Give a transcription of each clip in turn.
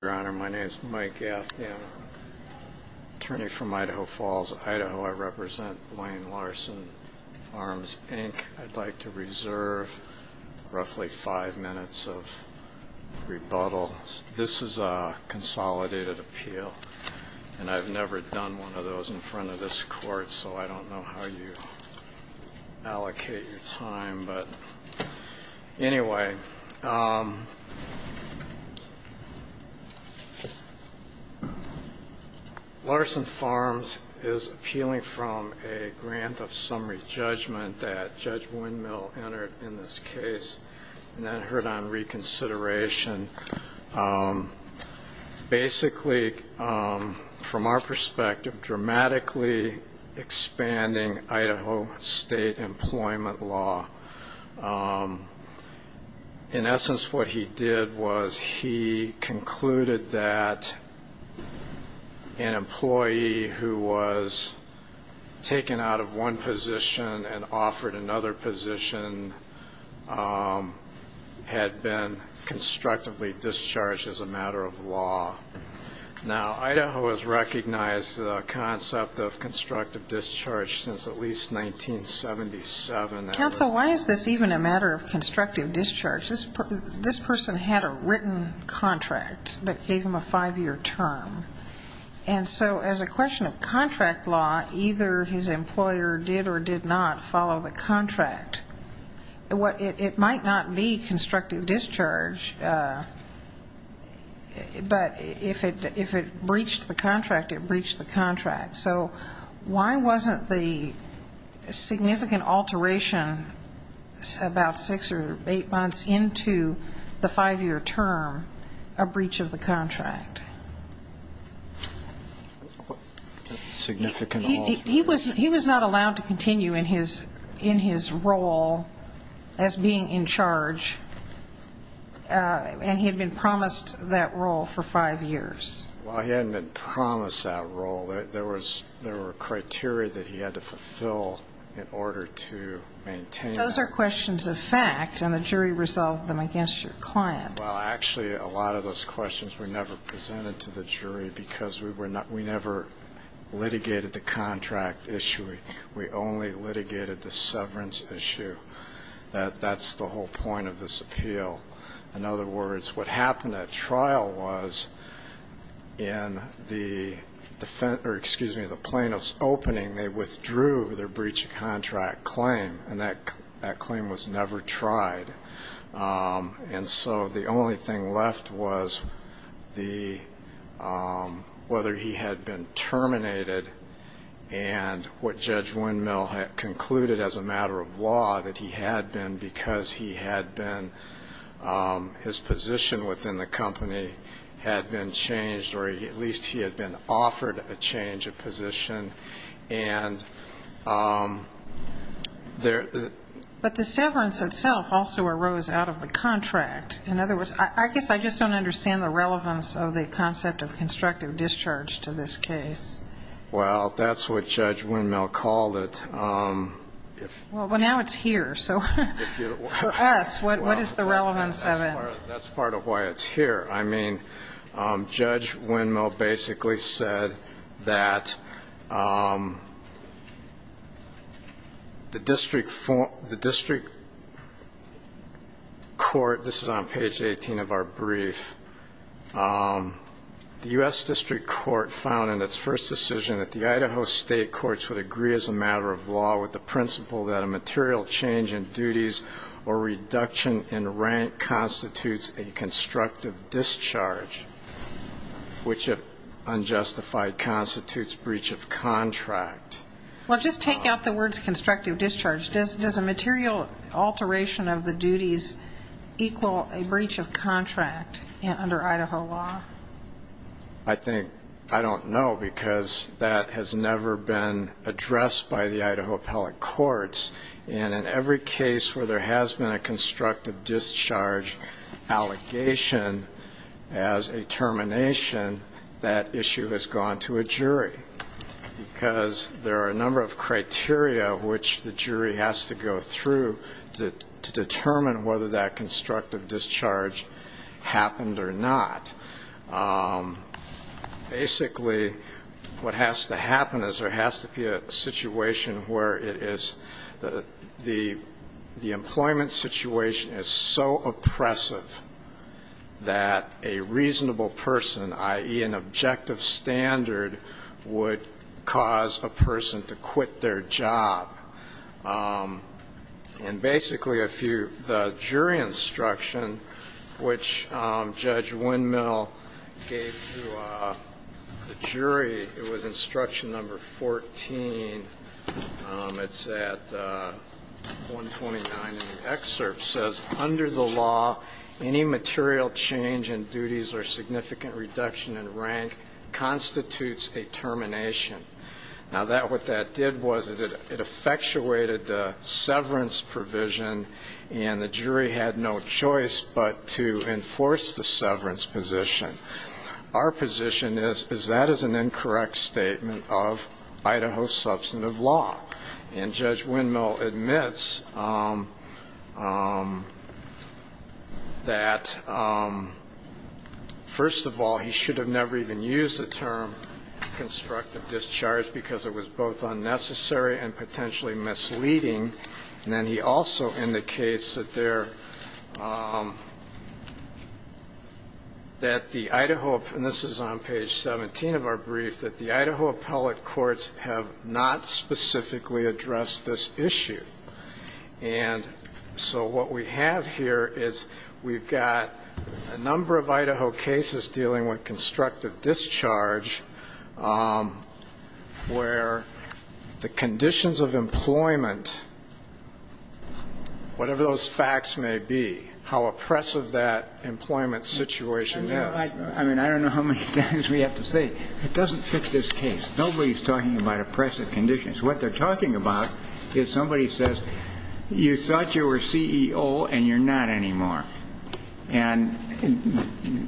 Your Honor, my name is Mike Gaffney. I'm an attorney from Idaho Falls, Idaho. I represent Blaine Larsen Farms, Inc. I'd like to reserve roughly five minutes of rebuttal. This is a consolidated appeal, and I've never done one of those in front of this court, so I don't know how you allocate your time. Anyway, Larsen Farms is appealing from a grant of summary judgment that Judge Windmill entered in this case, and then heard on reconsideration. Basically, from our perspective, dramatically expanding Idaho state employment law. In essence, what he did was he had been constructively discharged as a matter of law. Now, Idaho has recognized the concept of constructive discharge since at least 1977. Counsel, why is this even a matter of constructive discharge? This person had a written contract that gave him a five-year term, and so as a question of contract law, either his employer did or did not follow the contract. It might not be constructive discharge, but if it breached the contract, it breached the contract. So why wasn't the significant alteration about six or eight months into the five-year term a breach of the contract? He was not allowed to continue in his role as being in charge, and he had been promised that role for five years. Well, he hadn't been promised that role. There were criteria that he had to fulfill in order to maintain that. Those are questions of fact, and the jury resolved them against your client. Well, actually, a lot of those questions were never presented to the jury because we never litigated the contract issue. We only litigated the severance issue. That's the whole point of this appeal. In other words, what happened at trial was in the plaintiff's opening, they withdrew their breach of contract claim, and that claim was never tried. And so the only thing left was whether he had been terminated and what Judge Windmill had concluded as a matter of law that he had been because his position within the company had been changed, or at least he had been offered a change of position. But the severance itself also arose out of the contract. In other words, I guess I just don't understand the relevance of the concept of constructive discharge to this case. Well, that's what Judge Windmill called it. Well, now it's here, so for us, what is the relevance of it? That's part of why it's here. I mean, Judge Windmill basically said that the district court – this is on page 18 of our brief – the U.S. district court found in its first decision that the Idaho state courts would agree as a matter of law with the principle that a material change in duties or reduction in rank constitutes a constructive discharge, which if unjustified constitutes breach of contract. Well, just taking out the words constructive discharge, does a material alteration of the duties equal a breach of contract under Idaho law? I think – I don't know, because that has never been addressed by the Idaho appellate courts. And in every case where there has been a constructive discharge allegation as a termination, that issue has gone to a jury, because there are a number of criteria which the jury has to go through to determine whether that constructive discharge happened or not. Basically, what has to happen is there has to be a situation where it is – the employment situation is so oppressive that a reasonable person, i.e. an objective standard, would cause a person to quit their job. And basically, if you – the jury instruction which Judge Windmill gave to the jury, it was instruction number 14, it's at 129 in the excerpt, says, under the law, any material change in duties or significant reduction in rank constitutes a termination. Now, what that did was it effectuated the severance provision, and the jury had no choice but to enforce the severance position. Our position is that is an incorrect statement of Idaho substantive law. And Judge Windmill admits that, first of all, he should have never even used the term constructive discharge because it was both unnecessary and potentially misleading. And then he also indicates that there – that the Idaho – and this is on page 17 of our brief – that the Idaho appellate courts have not specifically addressed this issue. And so what we have here is we've got a number of Idaho cases dealing with constructive discharge where the conditions of employment, whatever those facts may be, how oppressive that employment situation is. I mean, I don't know how many times we have to say, it doesn't fit this case. Nobody's talking about oppressive conditions. What they're talking about is somebody says, you thought you were CEO and you're not anymore. And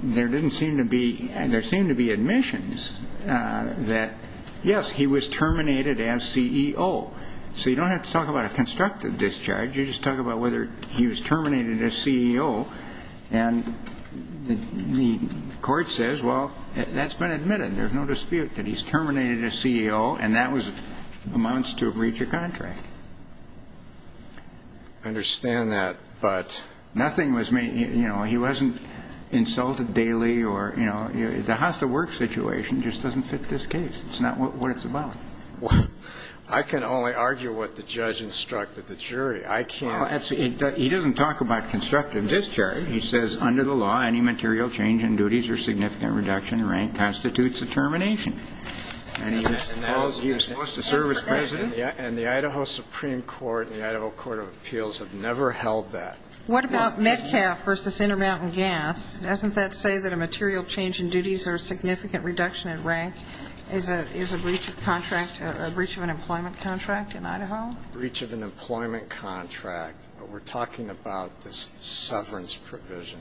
there didn't seem to be – there seemed to be admissions that, yes, he was terminated as CEO. So you don't have to talk about a constructive discharge. You just talk about whether he was terminated as CEO. And the court says, well, that's been admitted. There's no dispute that he's terminated as CEO, and that amounts to a breach of contract. I understand that, but – Nothing was – he wasn't insulted daily or – the hostile work situation just doesn't fit this case. It's not what it's about. I can only argue what the judge instructed the jury. I can't – He doesn't talk about constructive discharge. He says, under the law, any material change in duties or significant reduction in rank constitutes a termination. And he was supposed to serve as president. And the Idaho Supreme Court and the Idaho Court of Appeals have never held that. What about Metcalf versus Intermountain Gas? Doesn't that say that a material change in duties or significant reduction in rank is a breach of contract, a breach of an employment contract in Idaho? A breach of an employment contract. We're talking about the severance provision.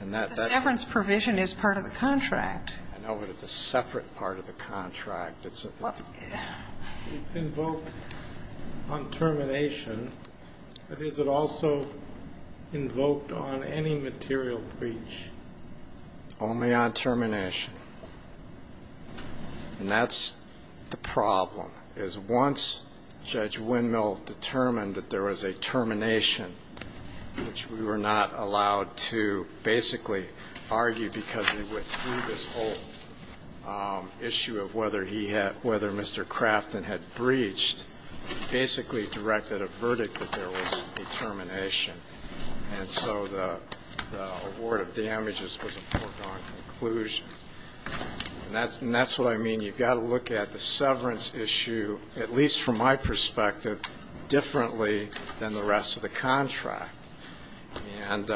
And that – The severance provision is part of the contract. I know, but it's a separate part of the contract. It's a – It's invoked on termination, but is it also invoked on any material breach? Only on termination. And that's the problem, is once Judge Windmill determined that there was a termination, which we were not allowed to basically argue because we went through this whole issue of whether he had – whether Mr. Crafton had breached, he basically directed a verdict that there was a termination. And so the award of damages was a foregone conclusion. And that's what I mean. You've got to look at the severance issue, at least from my perspective, differently than the rest of the contract. And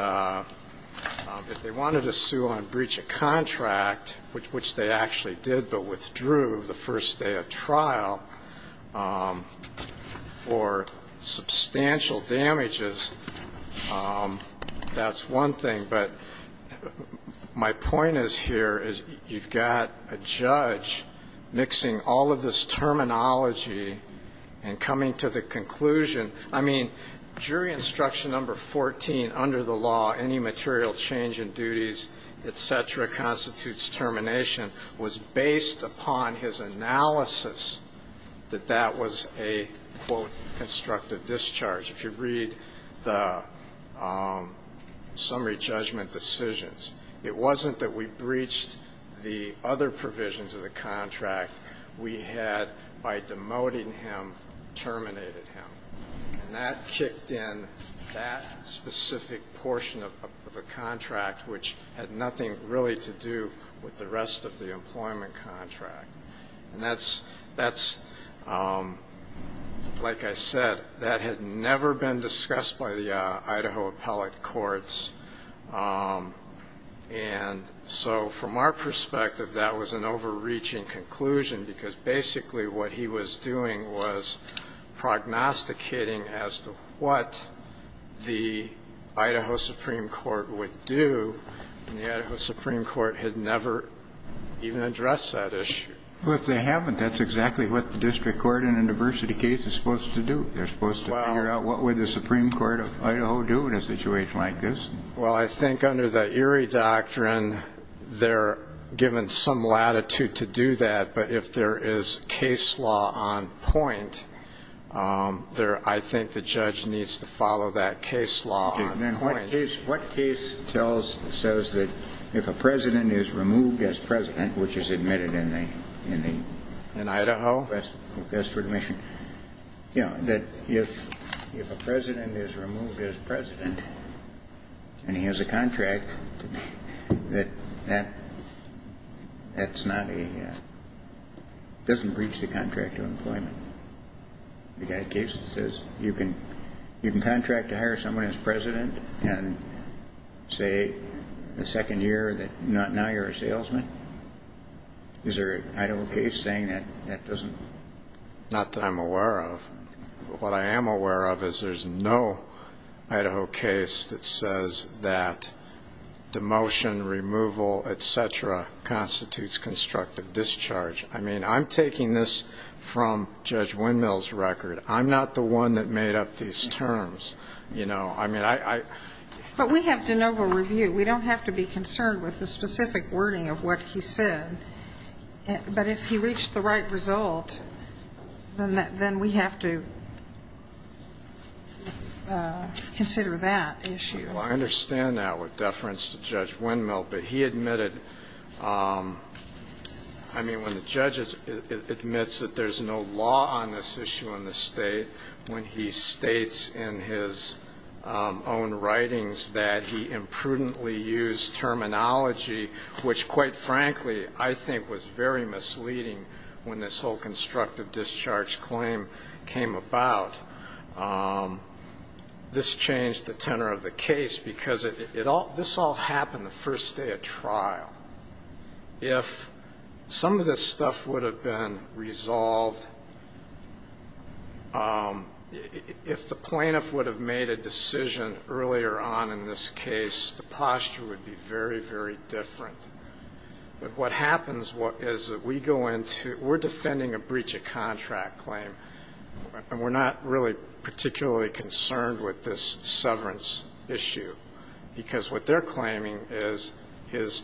if they wanted to sue on breach of contract, which they actually did but withdrew the first day of trial, for substantial damages, that's one thing. But my point is here is you've got a judge mixing all of this terminology and coming to the conclusion – I mean, jury instruction number 14 under the law, any material change in duties, et cetera, constitutes termination, was based upon his analysis that that was a, quote, constructive discharge. If you read the summary judgment decisions, it wasn't that we breached the other provisions of the contract. We had, by demoting him, terminated him. And that kicked in that specific portion of the contract, which had nothing really to do with the rest of the employment contract. And that's – like I said, that had never been discussed by the Idaho appellate courts. And so from our perspective, that was an overreaching conclusion because basically what he was doing was prognosticating as to what the Idaho Supreme Court would do. And the Idaho Supreme Court had never even addressed that issue. Well, if they haven't, that's exactly what the district court in a diversity case is supposed to do. They're supposed to figure out what would the Supreme Court of Idaho do in a situation like this. Well, I think under the Erie doctrine, they're given some latitude to do that. But if there is case law on point, I think the judge needs to follow that case law on point. Then what case says that if a president is removed as president, which is admitted in the – In Idaho? That's for admission. You know, that if a president is removed as president and he has a contract, that that's not a – doesn't breach the contract of employment. You've got a case that says you can contract to hire someone as president and say the second year that now you're a salesman. Is there an Idaho case saying that that doesn't – Not that I'm aware of. What I am aware of is there's no Idaho case that says that demotion, removal, et cetera, constitutes constructive discharge. I mean, I'm taking this from Judge Windmill's record. I'm not the one that made up these terms, you know. I mean, I – But we have de novo review. We don't have to be concerned with the specific wording of what he said. But if he reached the right result, then we have to consider that issue. Well, I understand that with deference to Judge Windmill. But he admitted – I mean, when the judge admits that there's no law on this issue in the State, when he states in his own writings that he imprudently used terminology, which quite frankly I think was very misleading when this whole constructive discharge claim came about, this changed the tenor of the case because this all happened the first day of trial. If some of this stuff would have been resolved, if the plaintiff would have made a decision earlier on in this case, the posture would be very, very different. But what happens is that we go into – we're defending a breach of contract claim, and we're not really particularly concerned with this severance issue because what they're claiming is his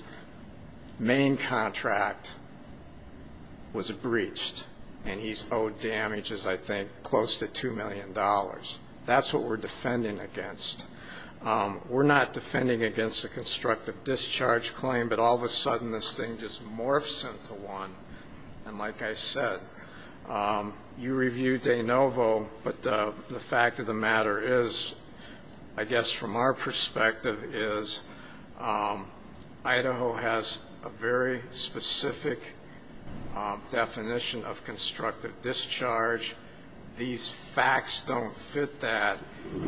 main contract was breached, and he's owed damages, I think, close to $2 million. That's what we're defending against. We're not defending against a constructive discharge claim, but all of a sudden this thing just morphs into one. And like I said, you reviewed de novo, but the fact of the matter is, I guess from our perspective, is Idaho has a very specific definition of constructive discharge. These facts don't fit that.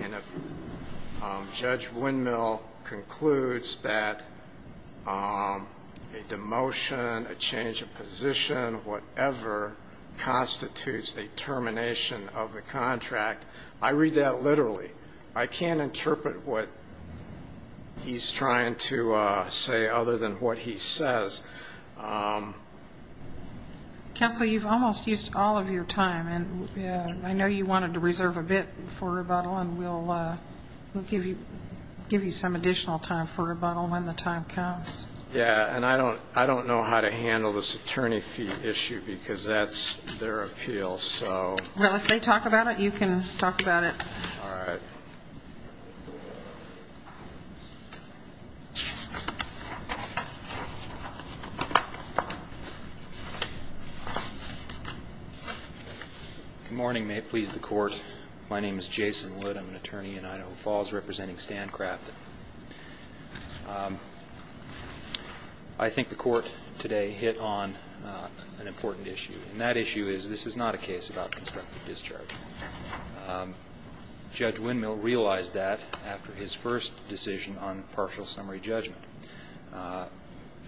And if Judge Windmill concludes that a demotion, a change of position, whatever, constitutes a termination of the contract, I read that literally. I can't interpret what he's trying to say other than what he says. Counsel, you've almost used all of your time, and I know you wanted to reserve a bit for rebuttal, and we'll give you some additional time for rebuttal when the time comes. Yeah, and I don't know how to handle this attorney fee issue because that's their appeal. Well, if they talk about it, you can talk about it. All right. Good morning. May it please the Court. My name is Jason Litt. I'm an attorney in Idaho Falls representing Stan Crafton. I think the Court today hit on an important issue, and that issue is this is not a case about constructive discharge. Judge Windmill realized that after his first decision on partial summary judgment.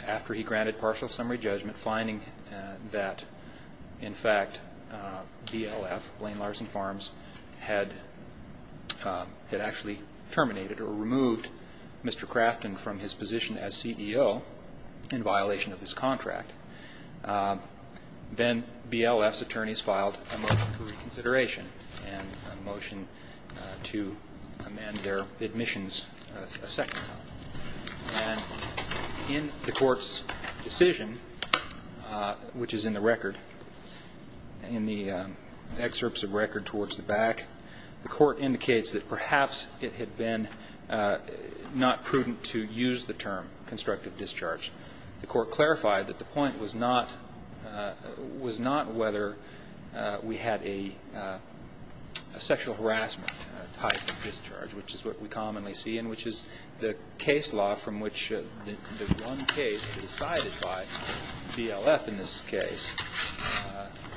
After he granted partial summary judgment, finding that in fact BLF, Blaine Larson Farms, had actually terminated or removed Mr. Crafton from his position as CEO in violation of his contract, then BLF's attorneys filed a motion for reconsideration and a motion to amend their admissions a second time. And in the Court's decision, which is in the record, in the excerpts of record towards the back, the Court indicates that perhaps it had been not prudent to use the term constructive discharge. The Court clarified that the point was not whether we had a sexual harassment type of discharge, which is what we commonly see and which is the case law from which the one case decided by BLF in this case.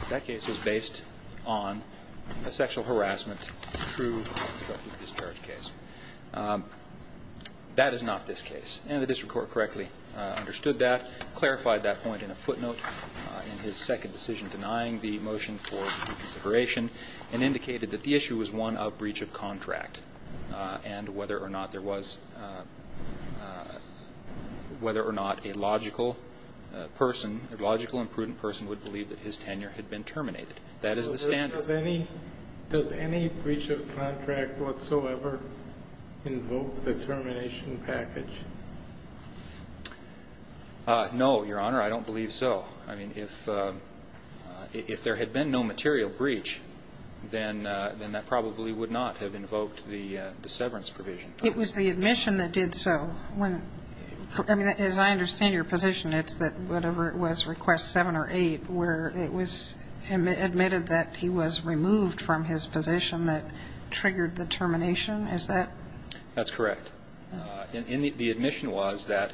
That case was based on a sexual harassment true constructive discharge case. That is not this case. And the district court correctly understood that, clarified that point in a footnote in his second decision, denying the motion for reconsideration and indicated that the issue was one of breach of contract and whether or not there was, whether or not a logical person, a logical and prudent person would believe that his tenure had been terminated. That is the standard. Does any breach of contract whatsoever invoke the termination package? No, Your Honor. I don't believe so. I mean, if there had been no material breach, then that probably would not have invoked the severance provision. It was the admission that did so. I mean, as I understand your position, it's that whatever it was, request 7 or 8, where it was admitted that he was removed from his position that triggered the termination, is that? That's correct. The admission was that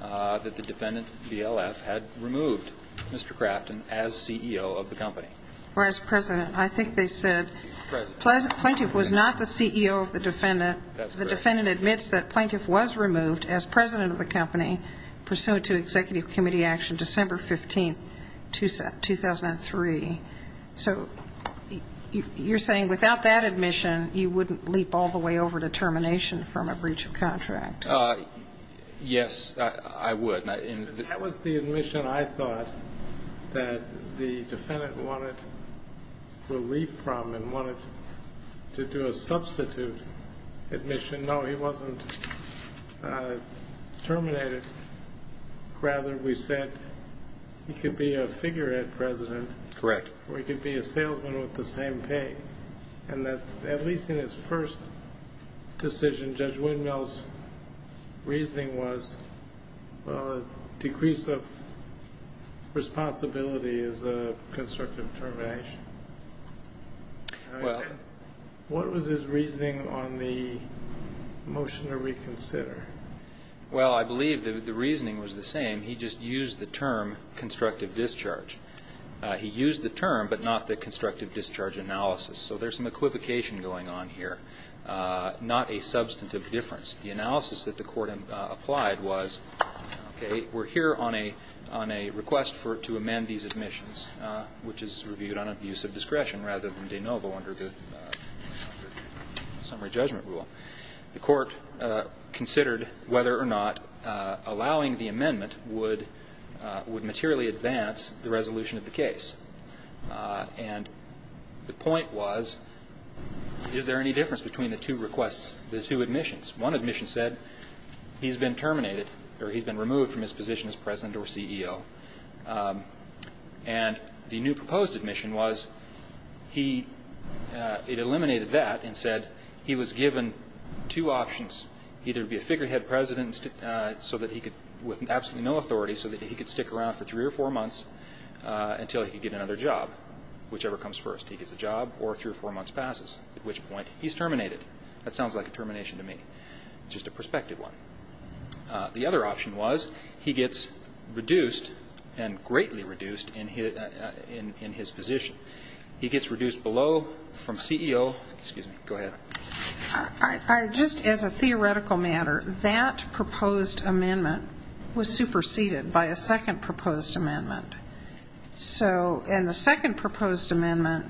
the defendant, BLF, had removed Mr. Crafton as CEO of the company. Whereas President, I think they said plaintiff was not the CEO of the defendant. That's correct. The defendant admits that plaintiff was removed as president of the company pursuant to executive committee action December 15, 2003. So you're saying without that admission, you wouldn't leap all the way over to termination from a breach of contract? Yes, I would. That was the admission I thought that the defendant wanted relief from and wanted to do a substitute admission. No, he wasn't terminated. Rather, we said he could be a figurehead president. Correct. Or he could be a salesman with the same pay. And that at least in his first decision, Judge Windmill's reasoning was, well, a decrease of responsibility is a constructive termination. Well. What was his reasoning on the motion to reconsider? Well, I believe the reasoning was the same. He just used the term constructive discharge. He used the term, but not the constructive discharge analysis. So there's some equivocation going on here, not a substantive difference. The analysis that the court applied was, okay, we're here on a request to amend these admissions, which is reviewed on abuse of discretion rather than de novo under the summary judgment rule. The court considered whether or not allowing the amendment would materially advance the resolution of the case. And the point was, is there any difference between the two requests, the two admissions? One admission said he's been terminated or he's been removed from his position as president or CEO. And the new proposed admission was he, it eliminated that and said he was given two options, either to be a figurehead president so that he could, with absolutely no authority, so that he could stick around for three or four months until he could get another job, whichever comes first. He gets a job or three or four months passes, at which point he's terminated. That sounds like a termination to me, just a prospective one. The other option was he gets reduced and greatly reduced in his position. He gets reduced below from CEO. Excuse me. Go ahead. Just as a theoretical matter, that proposed amendment was superseded by a second proposed amendment. And the second proposed amendment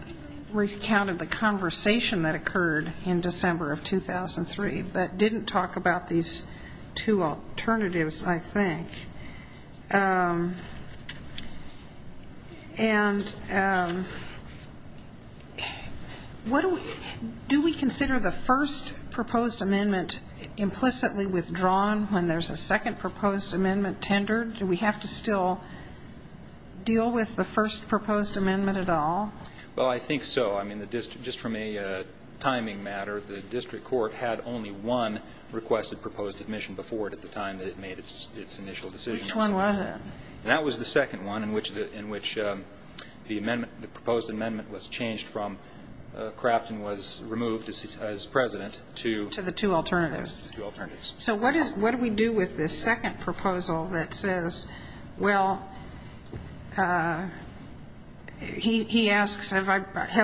recounted the conversation that occurred in December of 2003, but didn't talk about these two alternatives, I think. And what do we do? Do we consider the first proposed amendment implicitly withdrawn when there's a second proposed amendment tendered? Do we have to still deal with the first proposed amendment at all? Well, I think so. I mean, just from a timing matter, the district court had only one requested before it at the time that it made its initial decision. Which one was it? That was the second one in which the proposed amendment was changed from Kraft and was removed as president to the two alternatives. So what do we do with this second proposal that says, well, he asks, have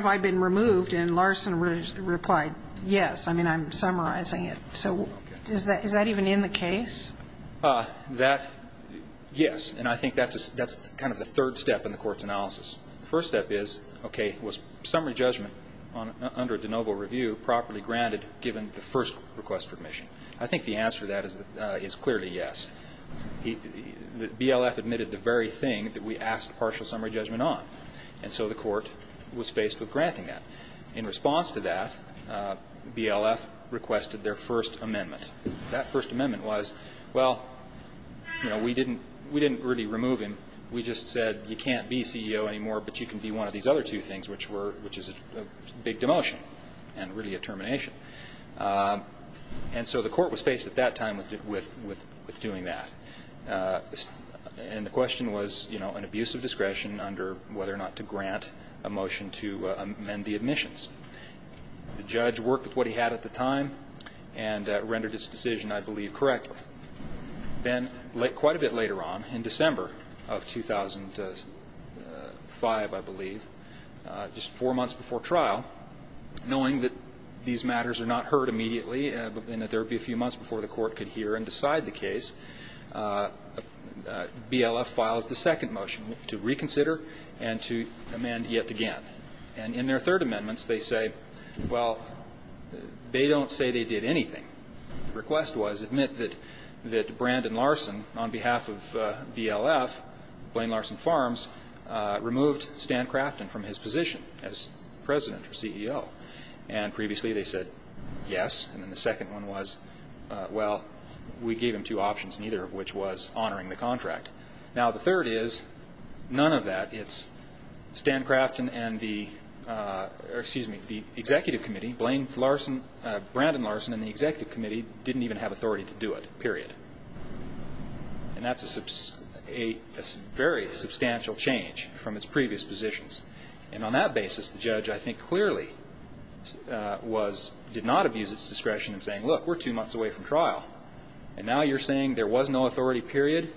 I been removed? And Larson replied, yes. I mean, I'm summarizing it. So is that even in the case? That, yes. And I think that's kind of the third step in the court's analysis. The first step is, okay, was summary judgment under de novo review properly granted given the first request for admission? I think the answer to that is clearly yes. BLF admitted the very thing that we asked partial summary judgment on. And so the court was faced with granting that. In response to that, BLF requested their first amendment. That first amendment was, well, you know, we didn't really remove him. We just said you can't be CEO anymore, but you can be one of these other two things, which is a big demotion and really a termination. And so the court was faced at that time with doing that. And the question was, you know, an abuse of discretion under whether or not to grant a motion to amend the admissions. The judge worked with what he had at the time and rendered his decision, I believe, correctly. Then quite a bit later on, in December of 2005, I believe, just four months before trial, knowing that these matters are not heard immediately and that there would be a few months before the court could hear and decide the case, BLF files the second motion to reconsider and to amend yet again. And in their third amendments, they say, well, they don't say they did anything. The request was, admit that Brandon Larson, on behalf of BLF, Blaine Larson Farms, removed Stan Crafton from his position as president or CEO. And previously they said yes, and then the second one was, well, we gave him two options, neither of which was honoring the contract. Now, the third is none of that. It's Stan Crafton and the executive committee, Blaine Larson, Brandon Larson and the executive committee didn't even have authority to do it, period. And that's a very substantial change from its previous positions. And on that basis, the judge, I think, clearly did not abuse its discretion in saying, look, we're two months away from trial. And now you're saying there was no authority, period,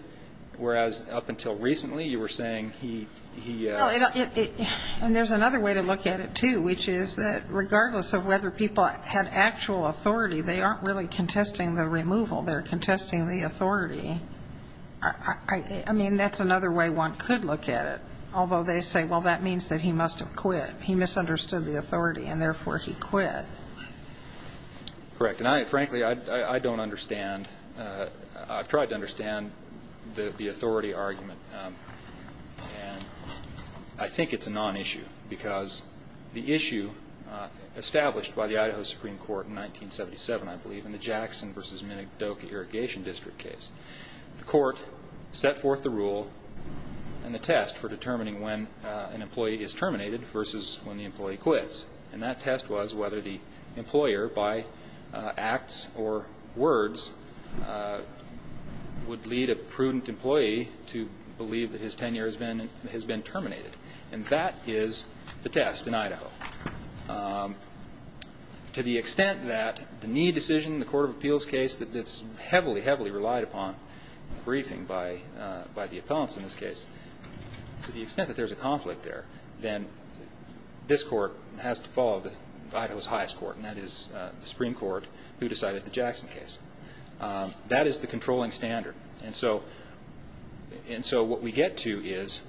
whereas up until recently you were saying he ---- And there's another way to look at it, too, which is that regardless of whether people had actual authority, they aren't really contesting the removal. They're contesting the authority. I mean, that's another way one could look at it, although they say, well, that means that he must have quit. He misunderstood the authority, and therefore he quit. Correct. And, frankly, I don't understand. I've tried to understand the authority argument. And I think it's a nonissue because the issue established by the Idaho Supreme Court in 1977, I believe, in the Jackson v. Minidoka Irrigation District case, the court set forth the rule and the test for determining when an employee is terminated versus when the employee quits. And that test was whether the employer, by acts or words, would lead a prudent employee to believe that his tenure has been terminated. And that is the test in Idaho. To the extent that the knee decision in the court of appeals case that's heavily, heavily relied upon, briefing by the appellants in this case, to the extent that there's a conflict there, then this court has to follow Idaho's highest court, and that is the Supreme Court, who decided the Jackson case. That is the controlling standard. And so what we get to is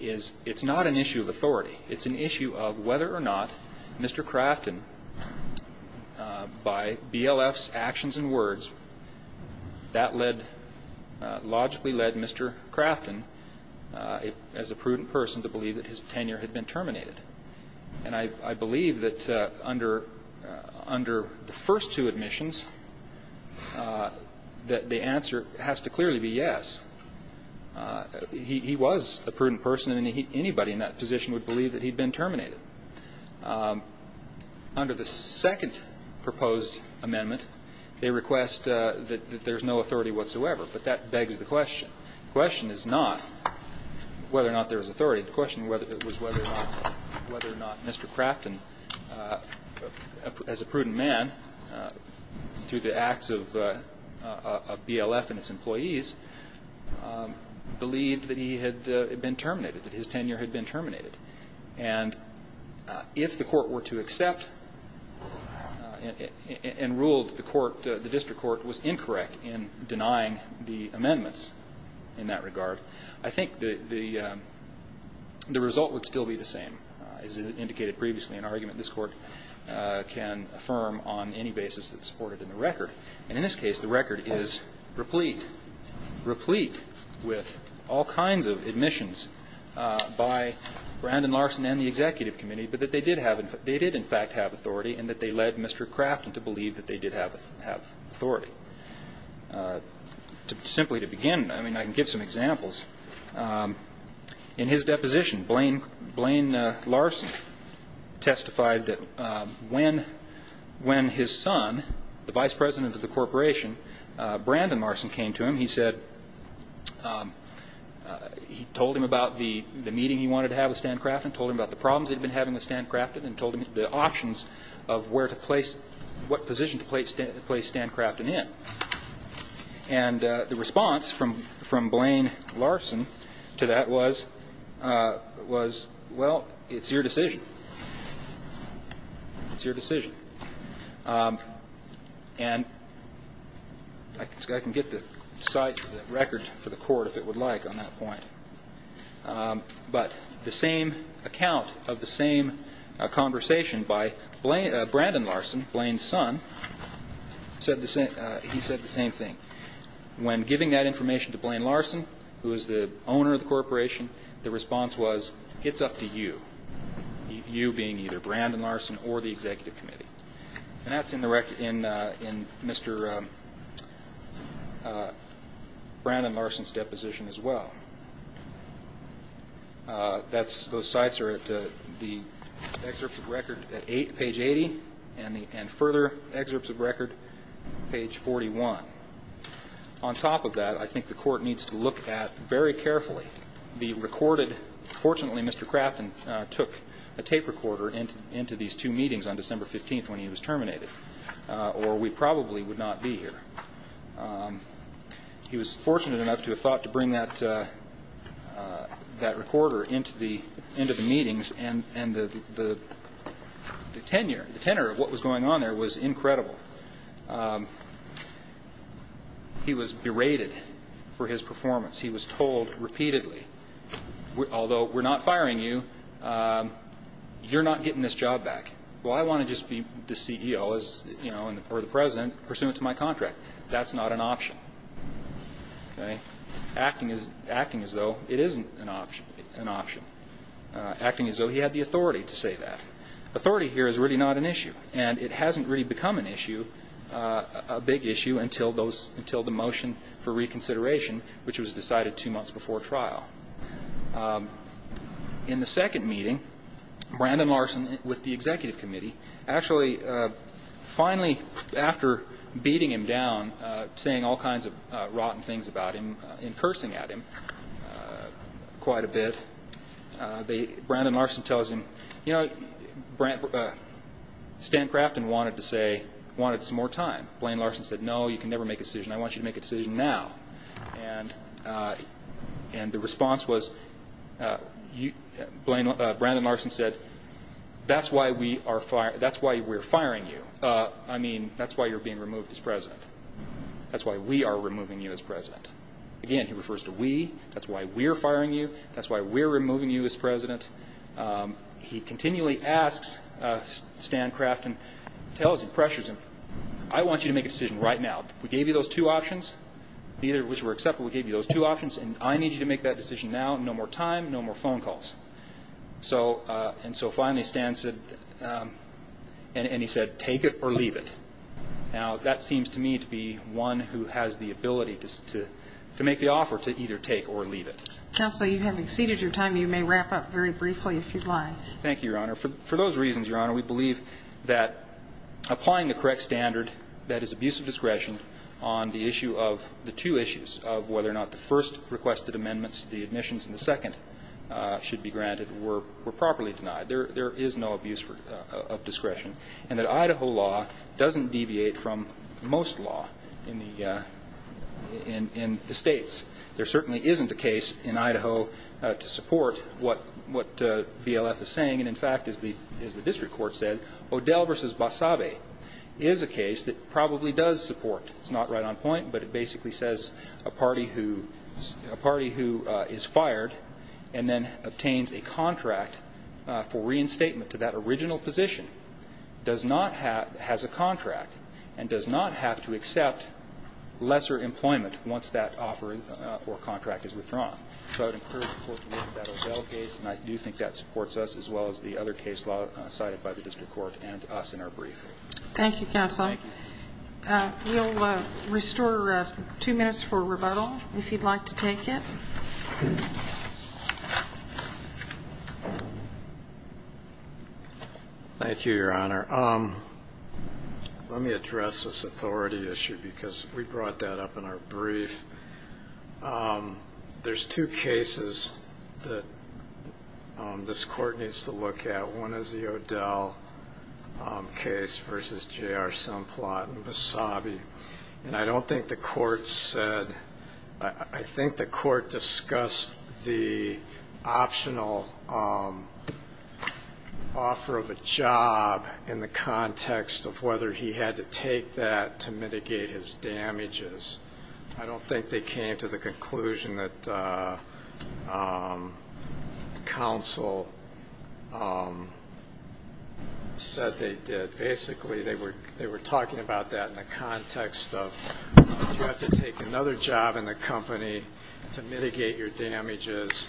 it's not an issue of authority. It's an issue of whether or not Mr. Crafton, by BLF's actions and words, that led, logically led Mr. Crafton, as a prudent person, to believe that his tenure had been terminated. And I believe that under the first two admissions, that the answer has to clearly be yes. He was a prudent person, and anybody in that position would believe that he'd been terminated. Under the second proposed amendment, they request that there's no authority whatsoever, but that begs the question. The question is not whether or not there is authority. The question was whether or not Mr. Crafton, as a prudent man, through the acts of BLF and its employees, believed that he had been terminated, that his tenure had been terminated. And if the court were to accept and rule that the court, the district court, was incorrect in denying the amendments in that regard, I think the result would still be the same. As indicated previously, an argument this Court can affirm on any basis that's supported in the record. And in this case, the record is replete, replete with all kinds of admissions by Brandon Larson and the executive committee, but that they did in fact have authority and that they led Mr. Crafton to believe that they did have authority. Simply to begin, I mean, I can give some examples. In his deposition, Blaine Larson testified that when his son, the vice president of the corporation, Brandon Larson came to him, he said, he told him about the meeting he wanted to have with Stan Crafton, told him about the problems he'd been having with Stan Crafton, and told him the options of where to place, what position to place Stan Crafton in. And the response from Blaine Larson to that was, well, it's your decision. It's your decision. And I can get the record for the Court, if it would like, on that point. But the same account of the same conversation by Brandon Larson, Blaine's son, said the same thing. When giving that information to Blaine Larson, who is the owner of the corporation, the response was, it's up to you, you being either Brandon Larson or the Executive Committee. And that's in Mr. Brandon Larson's deposition as well. Those sites are at the excerpts of record at page 80 and further excerpts of record page 41. On top of that, I think the Court needs to look at very carefully the recorded Fortunately, Mr. Crafton took a tape recorder into these two meetings on December 15th, when he was terminated, or we probably would not be here. He was fortunate enough to have thought to bring that recorder into the meetings, and the tenor of what was going on there was incredible. He was berated for his performance. He was told repeatedly, although we're not firing you, you're not getting this job back. Well, I want to just be the CEO, or the President, pursuant to my contract. That's not an option. Acting as though it isn't an option. Acting as though he had the authority to say that. Authority here is really not an issue, and it hasn't really become an issue, a big issue, until the motion for reconsideration, which was decided two months before trial. In the second meeting, Brandon Larson, with the Executive Committee, actually finally, after beating him down, saying all kinds of rotten things about him and cursing at him quite a bit, Brandon Larson tells him, you know, Stan Crafton wanted some more time. Blaine Larson said, no, you can never make a decision. I want you to make a decision now. And the response was, Brandon Larson said, that's why we're firing you. I mean, that's why you're being removed as President. That's why we are removing you as President. Again, he refers to we. That's why we're firing you. That's why we're removing you as President. He continually asks Stan Crafton, tells him, pressures him, I want you to make a decision right now. We gave you those two options, either of which were acceptable. We gave you those two options, and I need you to make that decision now. No more time, no more phone calls. And so finally Stan said, and he said, take it or leave it. Now, that seems to me to be one who has the ability to make the offer, to either take or leave it. Counsel, you have exceeded your time. You may wrap up very briefly if you'd like. Thank you, Your Honor. For those reasons, Your Honor, we believe that applying the correct standard that is abuse of discretion on the issue of the two issues of whether or not the first requested amendments to the admissions and the second should be granted were properly denied. There is no abuse of discretion. And that Idaho law doesn't deviate from most law in the states. There certainly isn't a case in Idaho to support what VLF is saying. And, in fact, as the district court said, O'Dell v. Basave is a case that probably does support. It's not right on point, but it basically says a party who is fired and then obtains a contract for reinstatement to that original position does not have a contract and does not have to accept lesser employment once that offer or contract is withdrawn. So I would encourage the court to look at that O'Dell case, and I do think that supports us as well as the other case law cited by the district court and us in our briefing. Thank you, Counsel. Thank you. We'll restore two minutes for rebuttal, if you'd like to take it. Thank you, Your Honor. Let me address this authority issue because we brought that up in our brief. There's two cases that this court needs to look at. One is the O'Dell case v. J.R. Semplot v. Basave, and I don't think the court said or I think the court discussed the optional offer of a job in the context of whether he had to take that to mitigate his damages. I don't think they came to the conclusion that counsel said they did. Basically, they were talking about that in the context of you have to take another job in the company to mitigate your damages,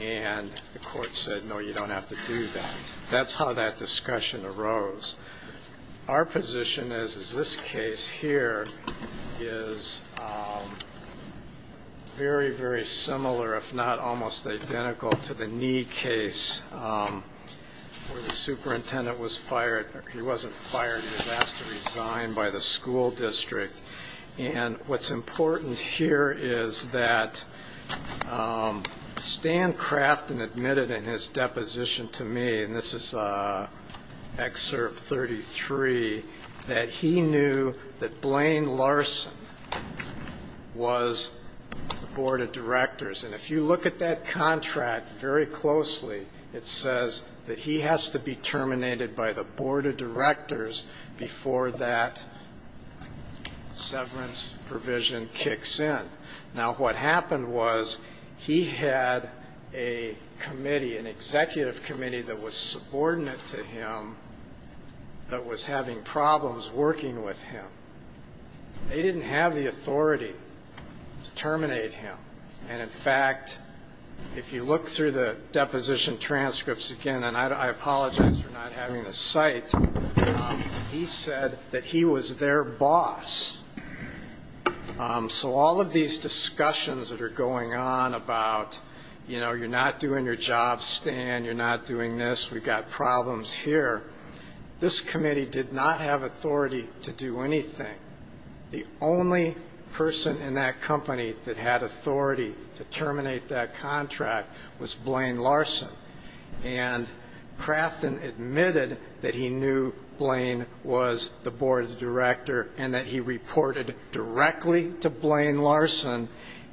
and the court said, no, you don't have to do that. That's how that discussion arose. Our position is this case here is very, very similar, if not almost identical, to the Knee case where the superintendent was fired. He wasn't fired. He was asked to resign by the school district. And what's important here is that Stan Crafton admitted in his deposition to me, and this is Excerpt 33, that he knew that Blaine Larson was the board of directors. And if you look at that contract very closely, it says that he has to be terminated by the board of directors before that severance provision kicks in. Now, what happened was he had a committee, an executive committee that was subordinate to him that was having problems working with him. They didn't have the authority to terminate him. And, in fact, if you look through the deposition transcripts again, and I apologize for not having a cite, he said that he was their boss. So all of these discussions that are going on about, you know, you're not doing your job, Stan, you're not doing this, we've got problems here, this committee did not have authority to do anything. The only person in that company that had authority to terminate that contract was Blaine Larson. And Crafton admitted that he knew Blaine was the board of directors and that he reported directly to Blaine Larson.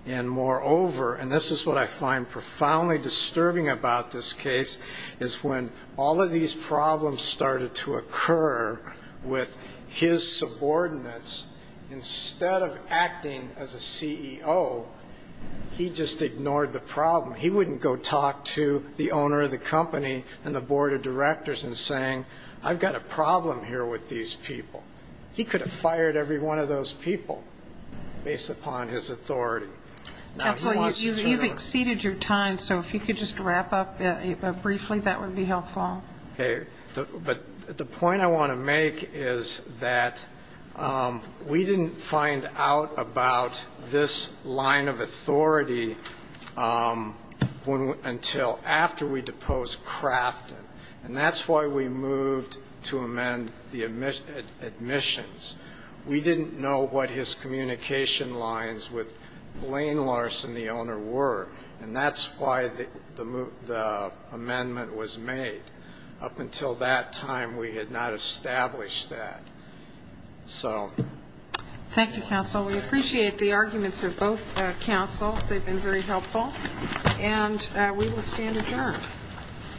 And, moreover, and this is what I find profoundly disturbing about this case, is when all of these problems started to occur with his subordinates, instead of acting as a CEO, he just ignored the problem. He wouldn't go talk to the owner of the company and the board of directors and saying, I've got a problem here with these people. He could have fired every one of those people based upon his authority. Counsel, you've exceeded your time, so if you could just wrap up briefly, that would be helpful. Okay. But the point I want to make is that we didn't find out about this line of authority until after we deposed Crafton, and that's why we moved to amend the admissions. We didn't know what his communication lines with Blaine Larson, the owner, were, and that's why the amendment was made. Up until that time, we had not established that. So. Thank you, counsel. We appreciate the arguments of both counsel. They've been very helpful. And we will stand adjourned.